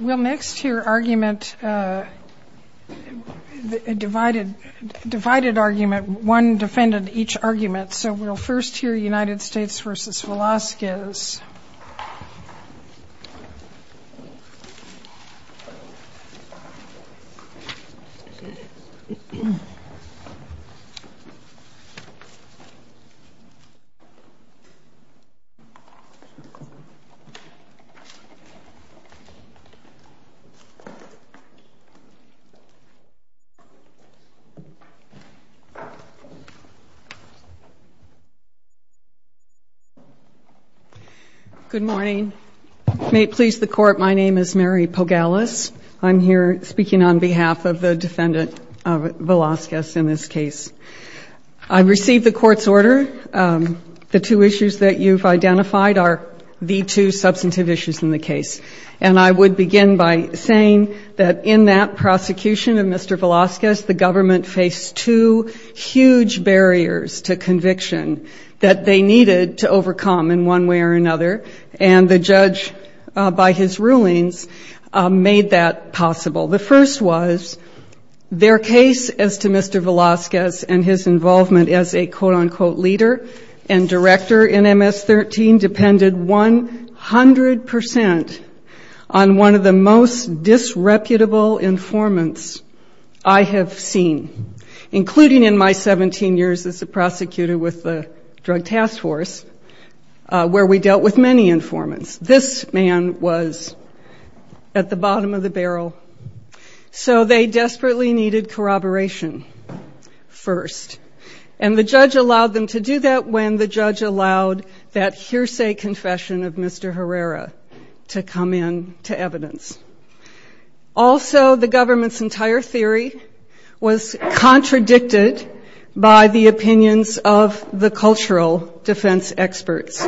We'll next hear argument, a divided argument, one defendant each argument. So we'll first hear United States v. Velasquez. Mary Pogalis Good morning. May it please the Court, my name is Mary Pogalis. I'm here speaking on behalf of the defendant Velasquez in this case. I received the Court's order. The two issues that you've identified are the two substantive issues in the case. And I would begin by saying that in that prosecution of Mr. Velasquez, the government faced two huge barriers to conviction that they needed to overcome in one way or another. And the judge, by his rulings, made that possible. The first was their case as to Mr. Velasquez and his involvement as a quote-unquote leader and director in MS-13 depended 100% on one of the most disreputable informants I have seen, including in my 17 years as a prosecutor with the Drug Task Force, where we dealt with many informants. This man was at the bottom of the barrel. So they desperately needed corroboration first. And the judge allowed them to do that when the judge allowed that hearsay confession of Mr. Herrera to come in to evidence. Also the government's entire theory was contradicted by the opinions of the cultural defense experts.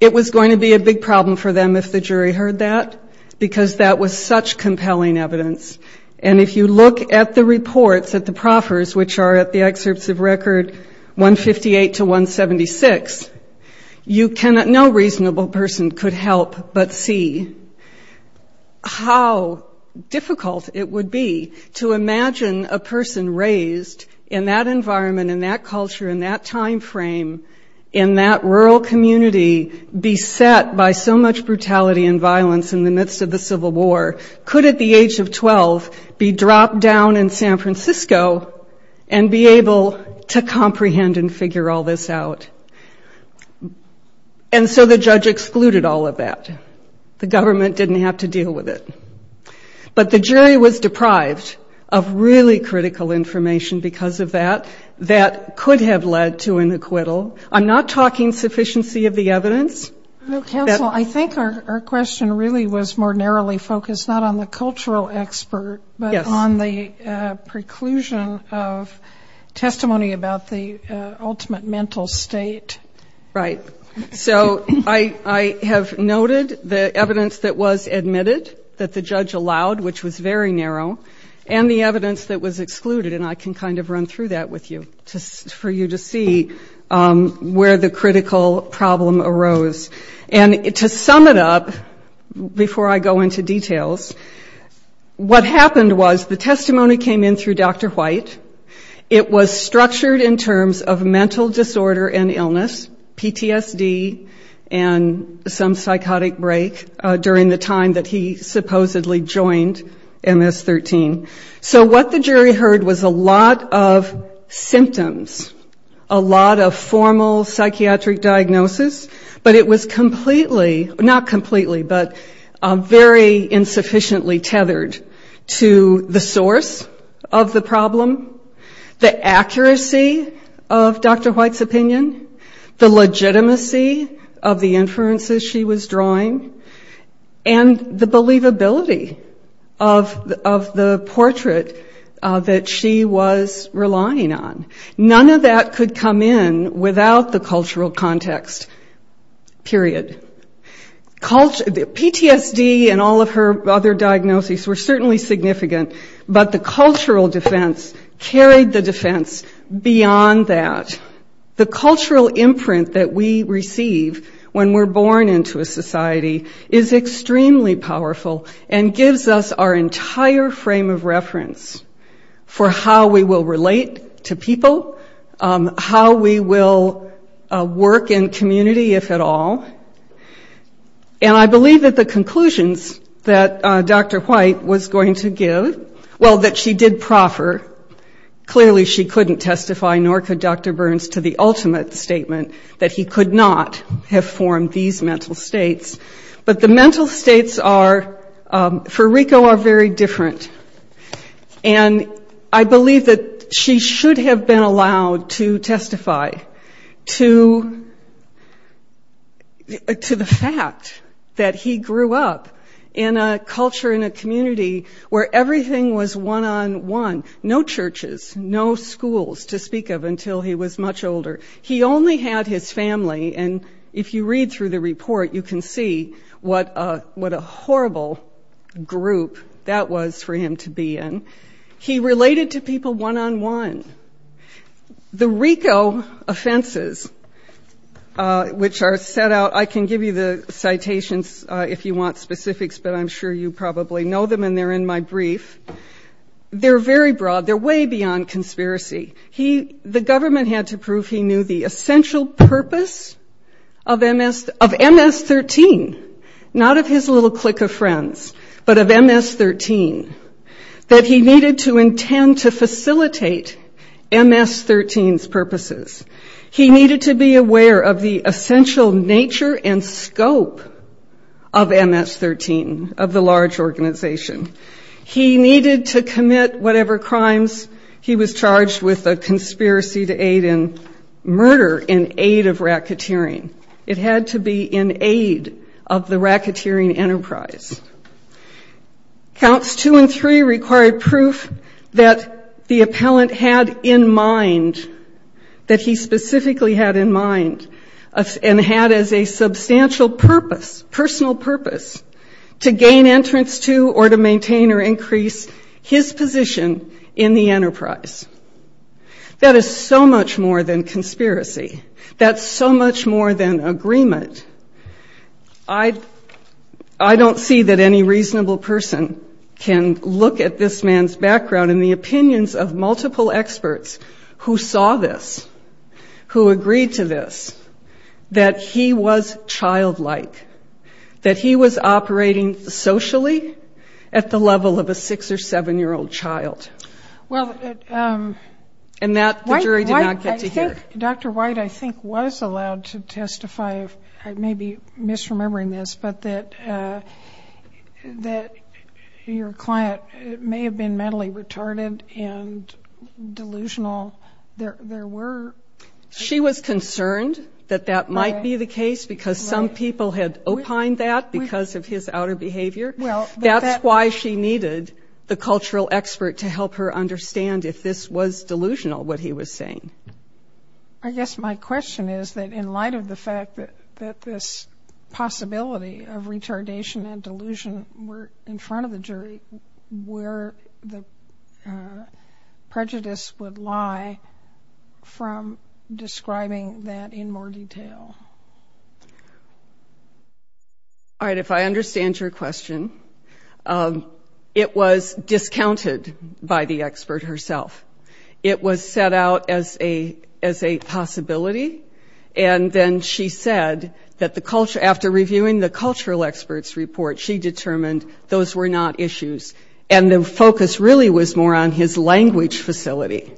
It was going to be a big problem for them if the jury heard that, because that was such compelling evidence. And if you look at the reports, at the proffers, which are at the excerpts of record 158 to 176, no reasonable person could help but see how difficult it would be to imagine a person raised in that environment, in that culture, in that timeframe, in that rural community beset by so much brutality and violence in the midst of the Civil War could at the age of 12 be dropped down in San Francisco and be able to comprehend and figure all this out. And so the judge excluded all of that. The government didn't have to deal with it. But the jury was deprived of really critical information because of that. That could have led to an acquittal. I'm not talking sufficiency of the evidence. No, counsel, I think our question really was more narrowly focused not on the cultural expert, but on the preclusion of testimony about the ultimate mental state. Right. So I have noted the evidence that was admitted, that the judge allowed, which was very narrow, and the evidence that was excluded. And I can kind of run through that with you just for you to see where the critical problem arose. And to sum it up, before I go into details, what happened was the testimony came in through Dr. White. It was structured in terms of mental disorder and illness, PTSD, and some psychotic break during the time that he supposedly joined MS-13. So what the jury heard was a lot of symptoms, a lot of formal psychiatric diagnosis, but it was completely, not completely, but very insufficiently tethered to the source of the problem, the accuracy of Dr. White's testimony, and the believability of the portrait that she was relying on. None of that could come in without the cultural context, period. PTSD and all of her other diagnoses were certainly significant, but the cultural defense carried the defense beyond that. The cultural imprint that we receive when we're born into a society is extremely powerful and gives us our entire frame of reference for how we will relate to people, how we will work in community, if at all. And I believe that the conclusions that Dr. White was going to give, well, that she did proffer, clearly she couldn't testify nor could Dr. Burns to the ultimate statement that he could not have formed these mental states. But the mental states are, for Rico, are very different. And I believe that she should have been allowed to testify to the fact that he grew up in a culture, in a community, where everything was one-on-one. No churches, no schools to speak of until he was much older. He only had his family, and if you read through the report, you can see what a horrible group that was for him to be in. He related to people one-on-one. The Rico offenses, which are set out, I can give you the citations if you want specifics, but I'm sure you probably know them and they're in my brief. They're very broad. They're way beyond conspiracy. He, the government had to prove he knew the essential purpose of MS, of MS-13, not of his little clique of friends, but of MS-13, that he needed to intend to facilitate MS-13's purposes. He needed to be aware of the essential nature and scope of MS-13, of the large organization. He needed to commit whatever crimes. He was charged with a conspiracy to aid in murder in aid of racketeering. It had to be in aid of the racketeering enterprise. Counts two and three required proof that the appellant had in mind, that he specifically had in mind and had as a substantial purpose, personal purpose, to gain entrance to or to maintain or increase his position in the enterprise. That is so much more than conspiracy. That's so much more than agreement. I don't see that any reasonable person can look at this man's that he was childlike, that he was operating socially at the level of a six or seven year old child. And that the jury did not get to hear. Dr. White, I think, was allowed to testify, I may be misremembering this, but that your client may have been mentally retarded and delusional. There were... She was concerned that that might be the case because some people had opined that because of his outer behavior. That's why she needed the cultural expert to help her understand if this was delusional, what he was saying. I guess my question is that in light of the fact that this possibility of retardation and delusion were in front of the jury, where the prejudice would lie from the point of describing that in more detail? All right, if I understand your question, it was discounted by the expert herself. It was set out as a possibility. And then she said that the culture, after reviewing the cultural expert's report, she determined those were not issues. And the focus really was more on his language facility,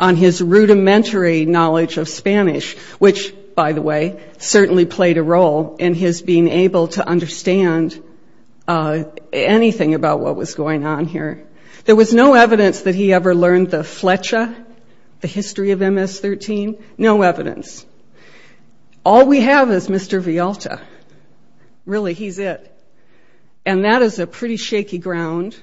on his rudimentary knowledge of Spanish, which, by the way, certainly played a role in his being able to understand anything about what was going on here. There was no evidence that he ever learned the flecha, the history of MS-13. No evidence. All we have is Mr. Vialta. Really, he's it. And that is a pretty shaky ground.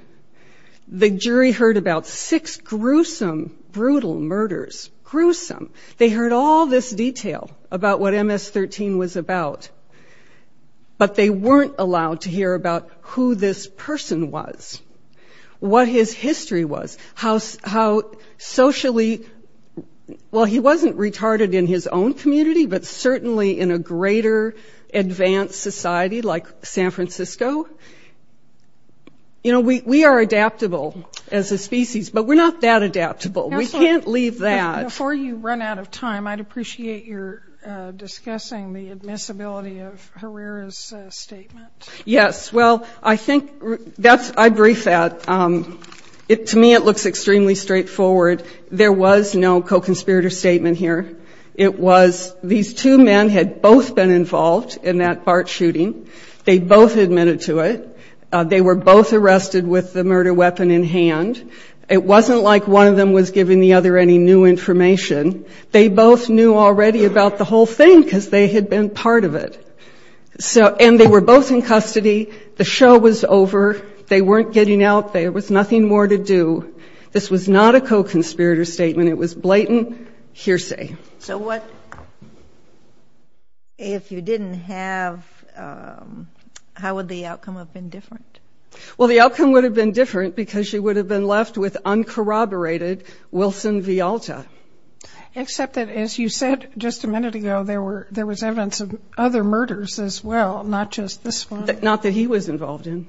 The jury heard about six gruesome, brutal murders. Gruesome. They heard all this detail about what MS-13 was about. But they weren't allowed to hear about who this person was, what his history was, how socially, well, he wasn't retarded in his own community, but certainly in a greater advanced society like San Francisco. You know, we are adaptable as a species, but we're not that adaptable. We can't leave that. Before you run out of time, I'd appreciate your discussing the admissibility of Herrera's statement. Yes. Well, I think that's, I'd brief that. To me, it looks extremely straightforward. There was no co-conspirator statement here. It was, these two men had both been involved in that BART shooting. They both admitted to it. They were both arrested with the murder weapon in hand. It wasn't like one of them was giving the other any new information. They both knew already about the whole thing because they had been part of it. So, and they were both in custody. The show was over. They weren't getting out. There was nothing more to do. This was not a co-conspirator statement. It was blatant hearsay. So what, if you didn't have, how would the outcome have been different? Well, the outcome would have been different because she would have been left with uncorroborated Wilson Vialta. Except that, as you said just a minute ago, there were, there was evidence of other murders as well, not just this one. Not that he was involved in.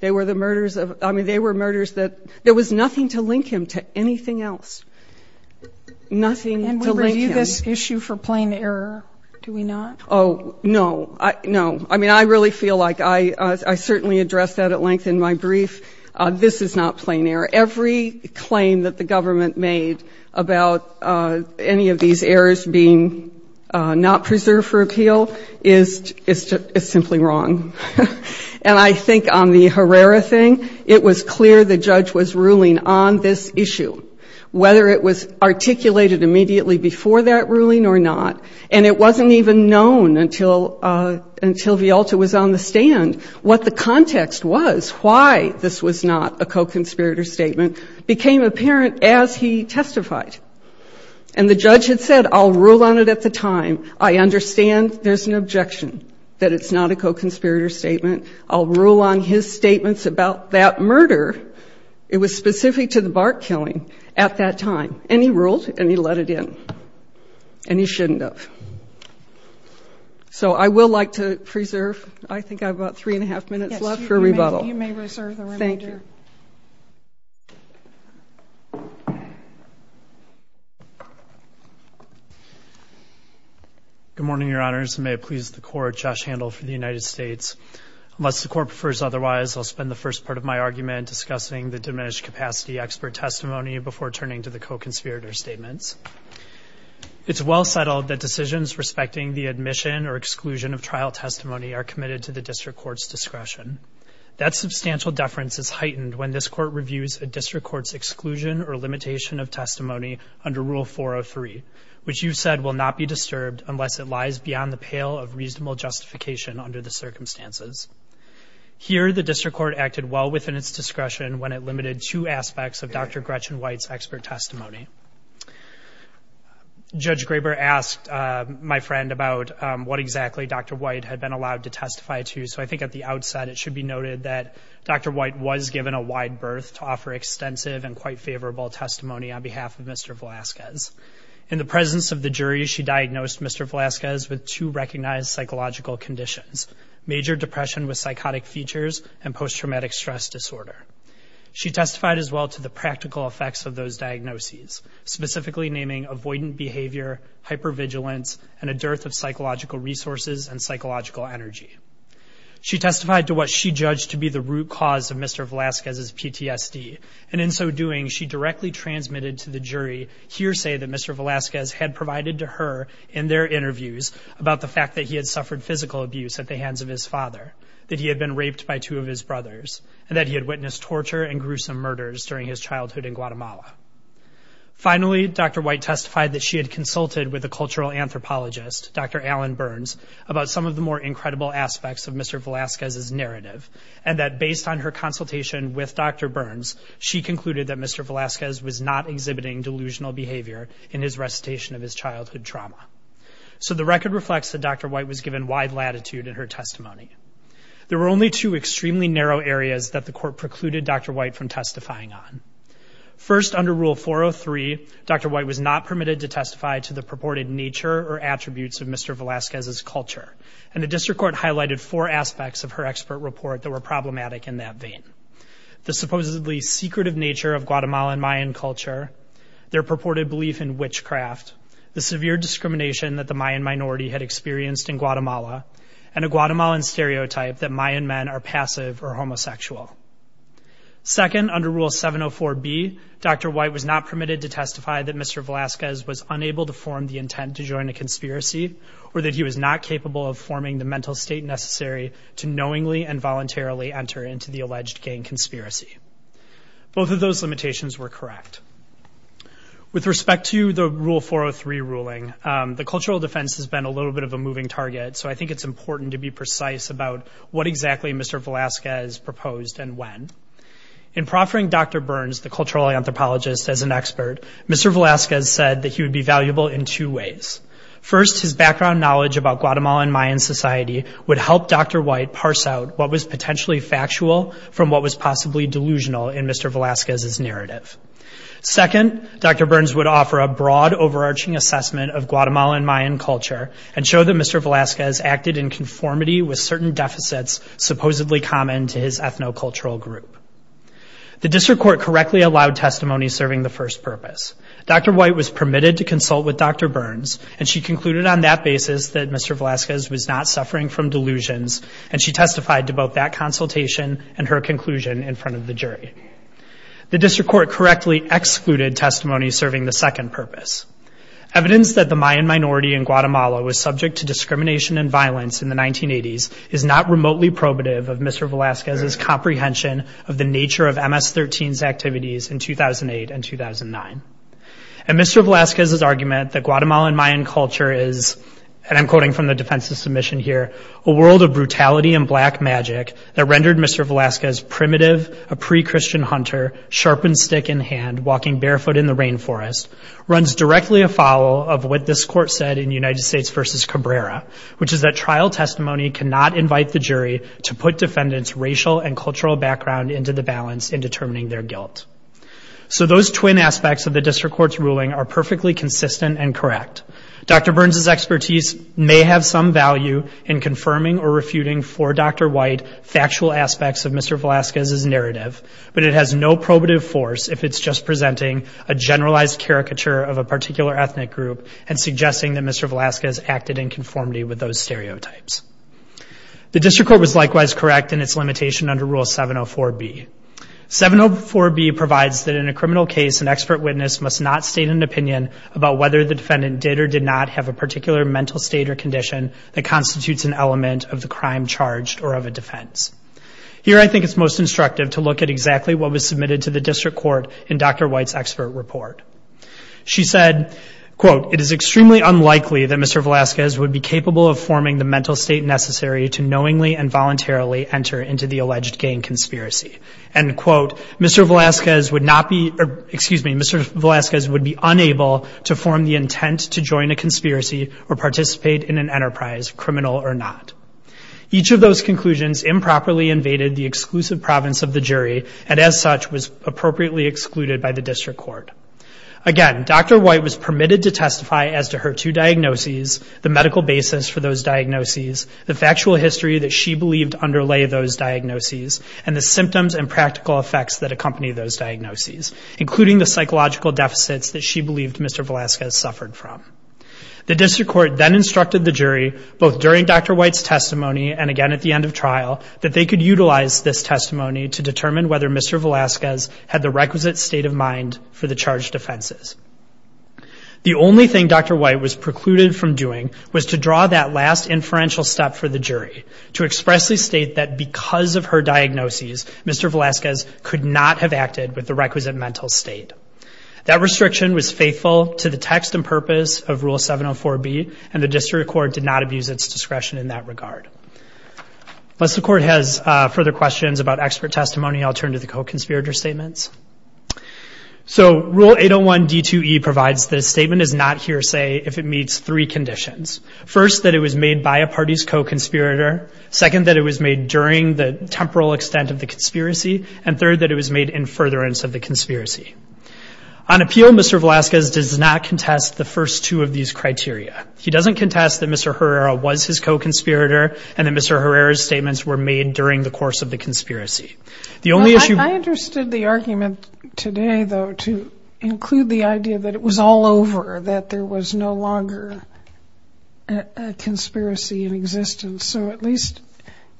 They were the murders of, I mean, they were murders that, Do we view this issue for plain error? Do we not? Oh, no. I, no. I mean, I really feel like I, I certainly addressed that at length in my brief. This is not plain error. Every claim that the government made about any of these errors being not preserved for appeal is, is simply wrong. And I think on the Herrera thing, it was clear the judge was ruling on this issue. Whether it was articulated immediately before that ruling or not, and it wasn't even known until, until Vialta was on the stand, what the context was, why this was not a co-conspirator statement, became apparent as he testified. And the judge had said, I'll rule on it at the time. I understand there's an objection that it's not a co-conspirator statement. I'll rule on his statements about that murder. It was specific to the bark killing at that time. And he ruled, and he let it in. And he shouldn't have. So I will like to preserve, I think I have about three and a half minutes left for rebuttal. Yes. You may, you may reserve the remainder. Thank you. Good morning, Your Honors. And may it please the Court, Josh Handel for the United States. Unless the Court prefers otherwise, I'll spend the first part of my argument discussing the diminished capacity expert testimony before turning to the co-conspirator statements. It's well settled that decisions respecting the admission or exclusion of trial testimony are committed to the district court's discretion. That substantial deference is heightened when this court reviews a district court's exclusion or limitation of testimony under Rule 403, which you've said will not be disturbed unless it lies beyond the pale of reasonable justification under the circumstances. Here, the district court acted well within its discretion when it limited two aspects of Dr. Gretchen White's expert testimony. Judge Graber asked my friend about what exactly Dr. White had been allowed to testify to. So I think at the outset, it should be noted that Dr. White was given a wide berth to offer extensive and quite favorable testimony on behalf of Mr. Velazquez. In the presence of the jury, she diagnosed Mr. Velazquez with two recognized psychological conditions, major depression with psychotic features and post-traumatic stress disorder. She testified as well to the practical effects of those diagnoses, specifically naming avoidant behavior, hypervigilance, and a dearth of psychological resources and psychological energy. She testified to what she judged to be the root cause of Mr. Velazquez's PTSD, and in so doing, she directly transmitted to the jury hearsay that Mr. Velazquez had provided to her in their interviews about the fact that he had suffered physical abuse at the hands of his father, that he had been raped by two of his brothers, and that he had witnessed torture and gruesome murders during his childhood in Guatemala. Finally, Dr. White testified that she had consulted with a cultural anthropologist, Dr. Alan Burns, about some of the more incredible aspects of Mr. Velazquez's narrative, and that based on her consultation with Dr. Burns, she concluded that Mr. Velazquez was not exhibiting delusional behavior in his recitation of his childhood trauma. So the record reflects that Dr. White was given wide latitude in her testimony. There were only two extremely narrow areas that the court precluded Dr. White from testifying on. First, under Rule 403, Dr. White was not permitted to testify to the purported nature or attributes of Mr. Velazquez's culture, and the district court highlighted four aspects of her expert report that were problematic in that vein. The supposedly secretive nature of Guatemalan Mayan culture, their purported belief in witchcraft, the severe discrimination that the Mayan minority had experienced in Guatemala, and a Guatemalan stereotype that Mayan men are passive or homosexual. Second, under Rule 704B, Dr. White was not permitted to testify that Mr. Velazquez was unable to form the intent to join a conspiracy, or that he was not capable of forming the mental state necessary to knowingly and voluntarily enter into the alleged gang conspiracy. Both of those limitations were correct. With respect to the Rule 403 ruling, the cultural defense has been a little bit of a moving target, so I think it's important to be precise about what exactly Mr. Velazquez proposed and when. In proffering Dr. Burns, the cultural anthropologist, as an expert, Mr. Velazquez said that he would be valuable in two ways. First, his background knowledge about Guatemalan Mayan society would help Dr. White parse out what was potentially factual from what was possibly delusional in Mr. Velazquez's narrative. Second, Dr. Burns would offer a broad overarching assessment of Guatemalan Mayan culture and show that Mr. Velazquez acted in conformity with certain deficits supposedly common to his ethno-cultural group. The district court correctly allowed testimony serving the first purpose. Dr. White was permitted to consult with Dr. Burns, and Mr. Velazquez was not suffering from delusions, and she testified to both that consultation and her conclusion in front of the jury. The district court correctly excluded testimony serving the second purpose. Evidence that the Mayan minority in Guatemala was subject to discrimination and violence in the 1980s is not remotely probative of Mr. Velazquez's comprehension of the nature of MS-13's activities in 2008 and 2009. In Mr. Velazquez's argument that Guatemalan Mayan culture is, and I'm quoting from the defense's submission here, a world of brutality and black magic that rendered Mr. Velazquez primitive, a pre-Christian hunter, sharpened stick in hand, walking barefoot in the rainforest, runs directly afoul of what this court said in United States v. Cabrera, which is that trial testimony cannot invite the jury to put defendants' racial and cultural background into the balance in determining their guilt. So those twin aspects of the district court's ruling are perfectly consistent and correct. Dr. Burns' expertise may have some value in confirming or refuting for Dr. White factual aspects of Mr. Velazquez's narrative, but it has no probative force if it's just presenting a generalized caricature of a particular ethnic group and suggesting that Mr. Velazquez acted in conformity with those stereotypes. The district court was likewise correct in its limitation under Rule 704B. 704B provides that in a criminal case, an expert witness must not state an opinion about whether the defendant did or did not have a particular mental state or condition that constitutes an element of the crime charged or of a defense. Here I think it's most instructive to look at exactly what was submitted to the district court in Dr. White's expert report. She said, quote, it is extremely unlikely that Mr. Velazquez would be capable of forming the mental state necessary to knowingly and voluntarily enter into the alleged gang conspiracy. And, quote, Mr. Velazquez would not be, excuse me, Mr. Velazquez would be unable to form the intent to join a conspiracy or participate in an enterprise, criminal or not. Each of those conclusions improperly invaded the exclusive province of the jury and as such was appropriately excluded by the district court. Again, Dr. White was permitted to testify as to her two diagnoses, the medical basis for those diagnoses, the factual history that she believed underlay those diagnoses, and the symptoms and practical effects that accompany those diagnoses, including the psychological deficits that she believed Mr. Velazquez suffered from. The district court then instructed the jury, both during Dr. White's testimony and again at the end of trial, that they could utilize this testimony to determine whether Mr. Velazquez had the requisite state of mind for the charged offenses. The only thing Dr. White was precluded from doing was to draw that last inferential step for the jury, to expressly state that because of her diagnoses, Mr. Velazquez could not have acted with the requisite mental state. That restriction was faithful to the text and purpose of Rule 704B and the district court did not abuse its discretion in that regard. Unless the court has further questions about expert testimony, I'll turn to the co-conspirator statements. So Rule 801 D2E provides that a statement is not hearsay if it meets three conditions. First, that it was made by a party's co-conspirator. Second, that it was made during the temporal extent of the conspiracy. And third, that it was made in furtherance of the conspiracy. On appeal, Mr. Velazquez does not contest the first two of these criteria. He doesn't contest that Mr. Herrera was his co-conspirator and that Mr. Herrera's statements were made during the course of the conspiracy. I understood the argument today, though, to include the idea that it was all over, that there was no longer a conspiracy in existence. So at least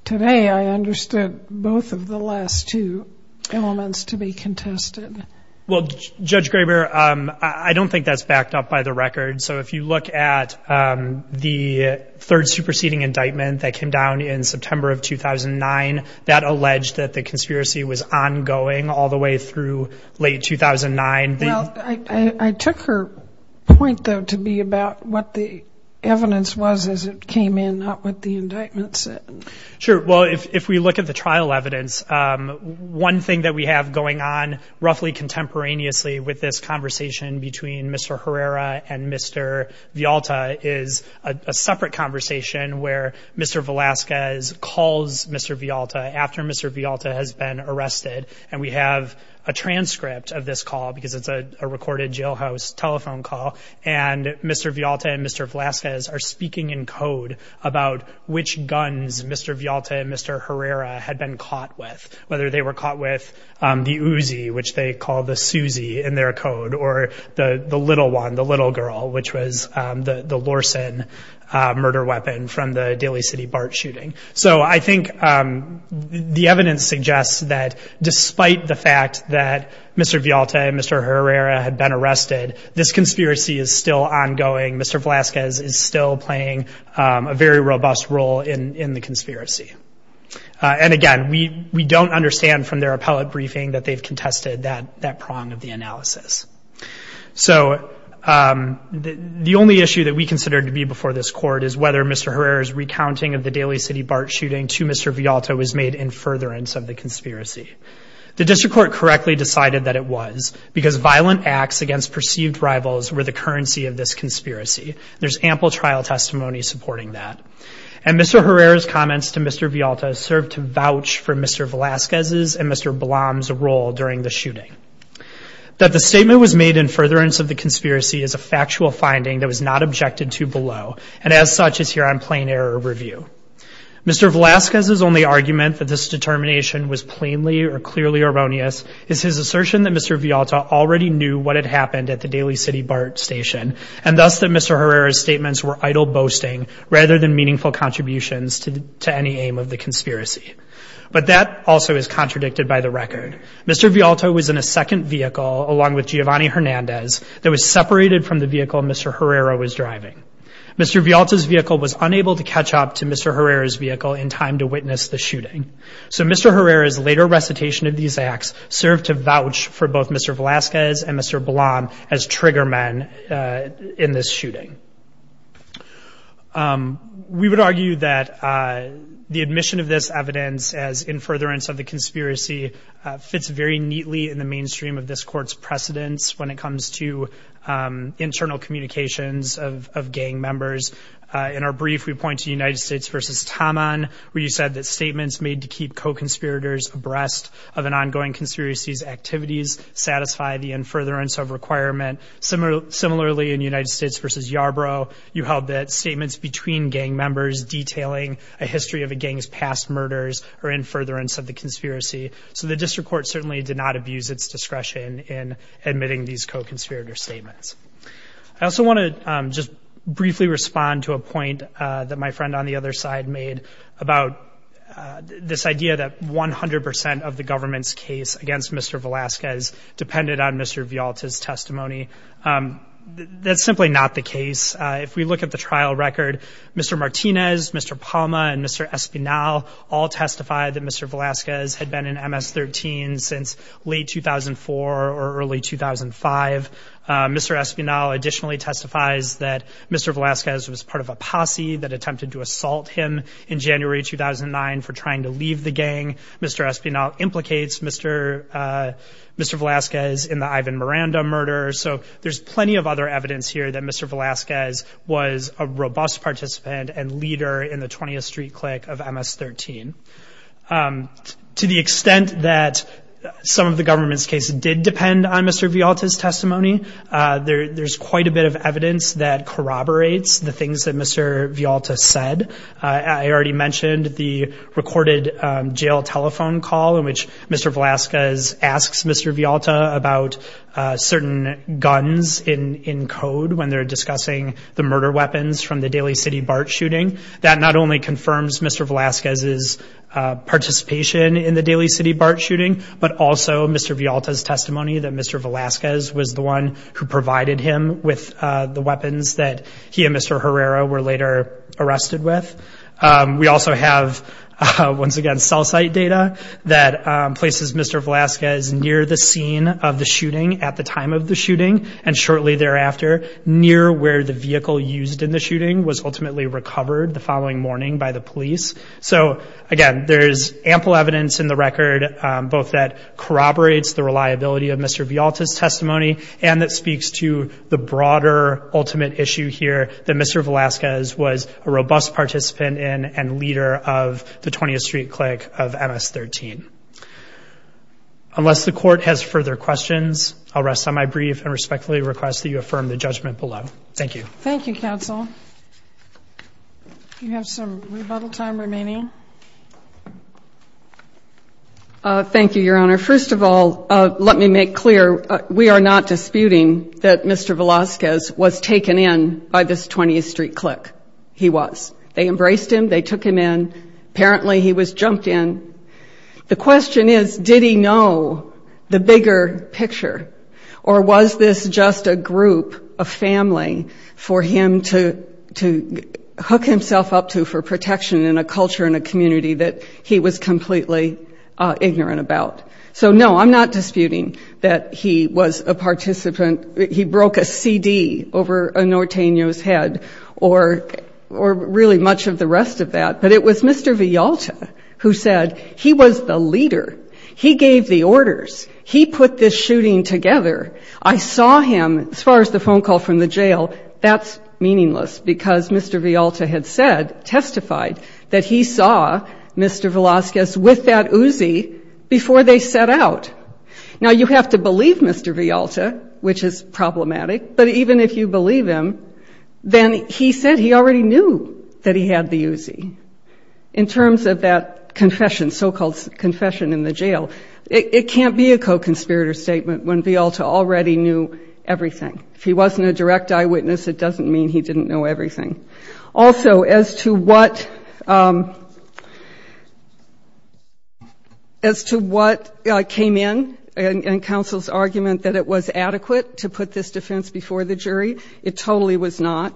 today I understood both of the last two elements to be contested. Well, Judge Graber, I don't think that's backed up by the record. So if you look at the third superseding indictment that came down in September of 2009, that alleged that the conspiracy was ongoing all the way through late 2009. Well, I took her point, though, to be about what the evidence was as it came in, not what the indictment said. Sure. Well, if we look at the trial evidence, one thing that we have going on roughly contemporaneously with this where Mr. Velazquez calls Mr. Vialta after Mr. Vialta has been arrested. And we have a transcript of this call because it's a recorded jailhouse telephone call. And Mr. Vialta and Mr. Velazquez are speaking in code about which guns Mr. Vialta and Mr. Herrera had been caught with, whether they were caught with the Uzi, which they call the Susie in their code, or the little one, the little girl, which was the Lorsen murder weapon from the Daly City BART shooting. So I think the evidence suggests that despite the fact that Mr. Vialta and Mr. Herrera had been arrested, this conspiracy is still ongoing. Mr. Velazquez is still playing a very robust role in the conspiracy. And again, we don't understand from their appellate briefing that they've contested that prong of the analysis. So the only issue that we consider to be before this court is whether Mr. Herrera's recounting of the Daly City BART shooting to Mr. Vialta was made in furtherance of the conspiracy. The district court correctly decided that it was, because violent acts against perceived rivals were the currency of this conspiracy. There's ample trial testimony supporting that. And Mr. Herrera's comments to Mr. Vialta served to vouch for Mr. Velazquez's and Mr. Blom's role during the shooting. That the statement was made in furtherance of the conspiracy is a factual finding that was not objected to below, and as such is here on plain error review. Mr. Velazquez's only argument that this determination was plainly or clearly erroneous is his assertion that Mr. Vialta already knew what had happened at the Daly City BART station, and thus that Mr. Herrera's meaningful contributions to any aim of the conspiracy. But that also is contradicted by the record. Mr. Vialta was in a second vehicle, along with Giovanni Hernandez, that was separated from the vehicle Mr. Herrera was driving. Mr. Vialta's vehicle was unable to catch up to Mr. Herrera's vehicle in time to witness the shooting. So Mr. Herrera's later recitation of these acts served to vouch for both Mr. Velazquez and Mr. Blom as trigger men in this shooting. We would argue that the admission of this evidence as in furtherance of the conspiracy fits very neatly in the mainstream of this court's precedence when it comes to internal communications of gang members. In our brief, we point to United States versus Taman, where you said that statements made to keep co-conspirators abreast of an Similarly in United States versus Yarbrough, you held that statements between gang members detailing a history of a gang's past murders are in furtherance of the conspiracy. So the district court certainly did not abuse its discretion in admitting these co-conspirator statements. I also want to just briefly respond to a point that my friend on the other side made about this idea that 100% of the government's case against Mr. Velazquez depended on Mr. testimony. That's simply not the case. If we look at the trial record, Mr. Martinez, Mr. Palma and Mr. Espinal all testify that Mr. Velazquez had been in MS-13 since late 2004 or early 2005. Mr. Espinal additionally testifies that Mr. Velazquez was part of a posse that attempted to assault him in January 2009 for trying to leave the gang. Mr. Espinal implicates Mr. Mr. Velazquez in the Ivan Miranda murder. So there's plenty of other evidence here that Mr. Velazquez was a robust participant and leader in the 20th Street Click of MS-13. To the extent that some of the government's cases did depend on Mr. Vialta's testimony, there's quite a bit of evidence that corroborates the things that Mr. Vialta said. I already mentioned the recorded jail telephone call in which Mr. Velazquez asks Mr. Vialta about certain guns in code when they're discussing the murder weapons from the Daly City BART shooting. That not only confirms Mr. Velazquez's participation in the Daly City BART shooting, but also Mr. Vialta's testimony that Mr. Velazquez was the one who provided him with the weapons that he and Mr. Herrera were later arrested with. We also have, once again, cell site data that places Mr. Velazquez near the scene of the shooting at the time of the shooting and shortly thereafter near where the vehicle used in the shooting was ultimately recovered the following morning by the police. So again, there's ample evidence in the record both that corroborates the reliability of that Mr. Velazquez was a robust participant in and leader of the 20th Street clique of MS-13. Unless the court has further questions, I'll rest on my brief and respectfully request that you affirm the judgment below. Thank you. Thank you, counsel. You have some rebuttal time remaining. Thank you, your honor. First of all, let me make clear, we are not disputing that Mr. Velazquez was taken in by this 20th Street clique. He was. They embraced him. They took him in. Apparently, he was jumped in. The question is, did he know the bigger picture or was this just a group, a family for him to hook himself up to for protection in a culture and a community that he was completely ignorant about? So no, I'm not disputing that he was a participant. He broke a CD over a Norteño's head or really much of the rest of that. But it was Mr. Vialta who said he was the leader. He gave the orders. He put this shooting together. I saw him. As far as the phone call from the jail, that's meaningless because Mr. Vialta had said, testified that he saw Mr. Velazquez with that Uzi before they set out. Now, you have to believe Mr. Vialta, which is problematic. But even if you believe him, then he said he already knew that he had the Uzi in terms of that confession, so-called confession in the jail. It can't be a co-conspirator statement when Vialta already knew everything. If he wasn't a direct eyewitness, it doesn't mean he didn't know everything. Also, as to what came in in counsel's argument that it was adequate to put this defense before the jury, it totally was not.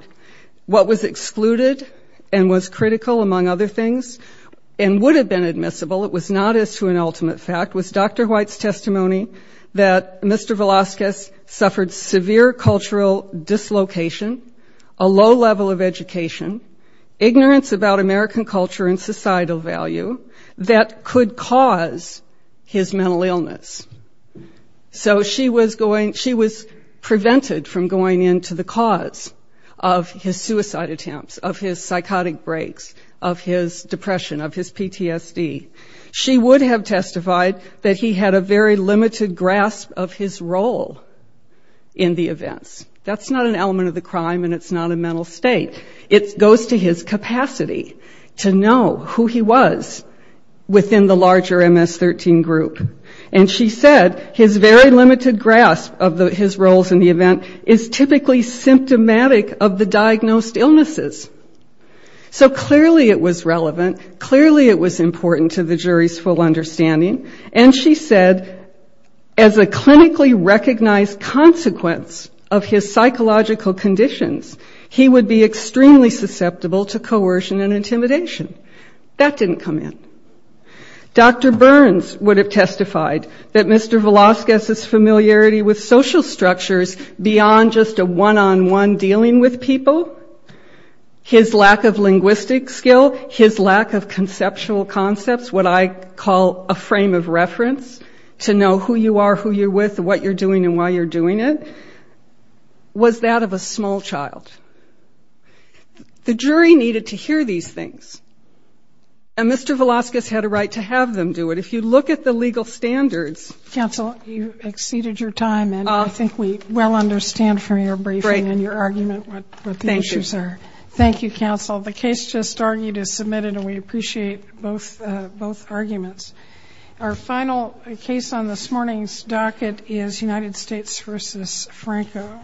What was excluded and was critical, among other things, and would have been admissible, it was not as to an ultimate fact, was Dr. White's testimony that Mr. Velazquez suffered severe cultural dislocation, a low level of education, ignorance about American culture and societal value that could cause his mental illness. So she was going, she was prevented from going into the cause of his suicide attempts, of his psychotic breaks, of his depression, of his PTSD. She would have testified that he had a very limited grasp of his role in the events. That's not an element of the crime and it's not a mental state. It goes to his capacity to know who he was within the larger MS-13 group. And she said his very limited grasp of his roles in the event is typically symptomatic of the diagnosed illnesses. So clearly it was relevant. Clearly it was important to the jury's full understanding. And she said, as a clinically recognized consequence of his psychological conditions, he would be extremely susceptible to coercion and intimidation. That didn't come in. Dr. Burns would have testified that Mr. Velazquez's familiarity with social structures beyond just a one-on-one dealing with people, his lack of linguistic skill, his lack of conceptual concepts, what I call a frame of reference to know who you are, who you're with, what you're doing, and why you're doing it, was that of a small child. The jury needed to hear these things. And Mr. Velazquez had a right to have them do it. If you look at the legal standards... Counsel, you exceeded your time and I think we well understand from your briefing and your argument what the issues are. Thank you. The case just argued is submitted and we appreciate both arguments. Our final case on this morning's docket is United States v. Franco.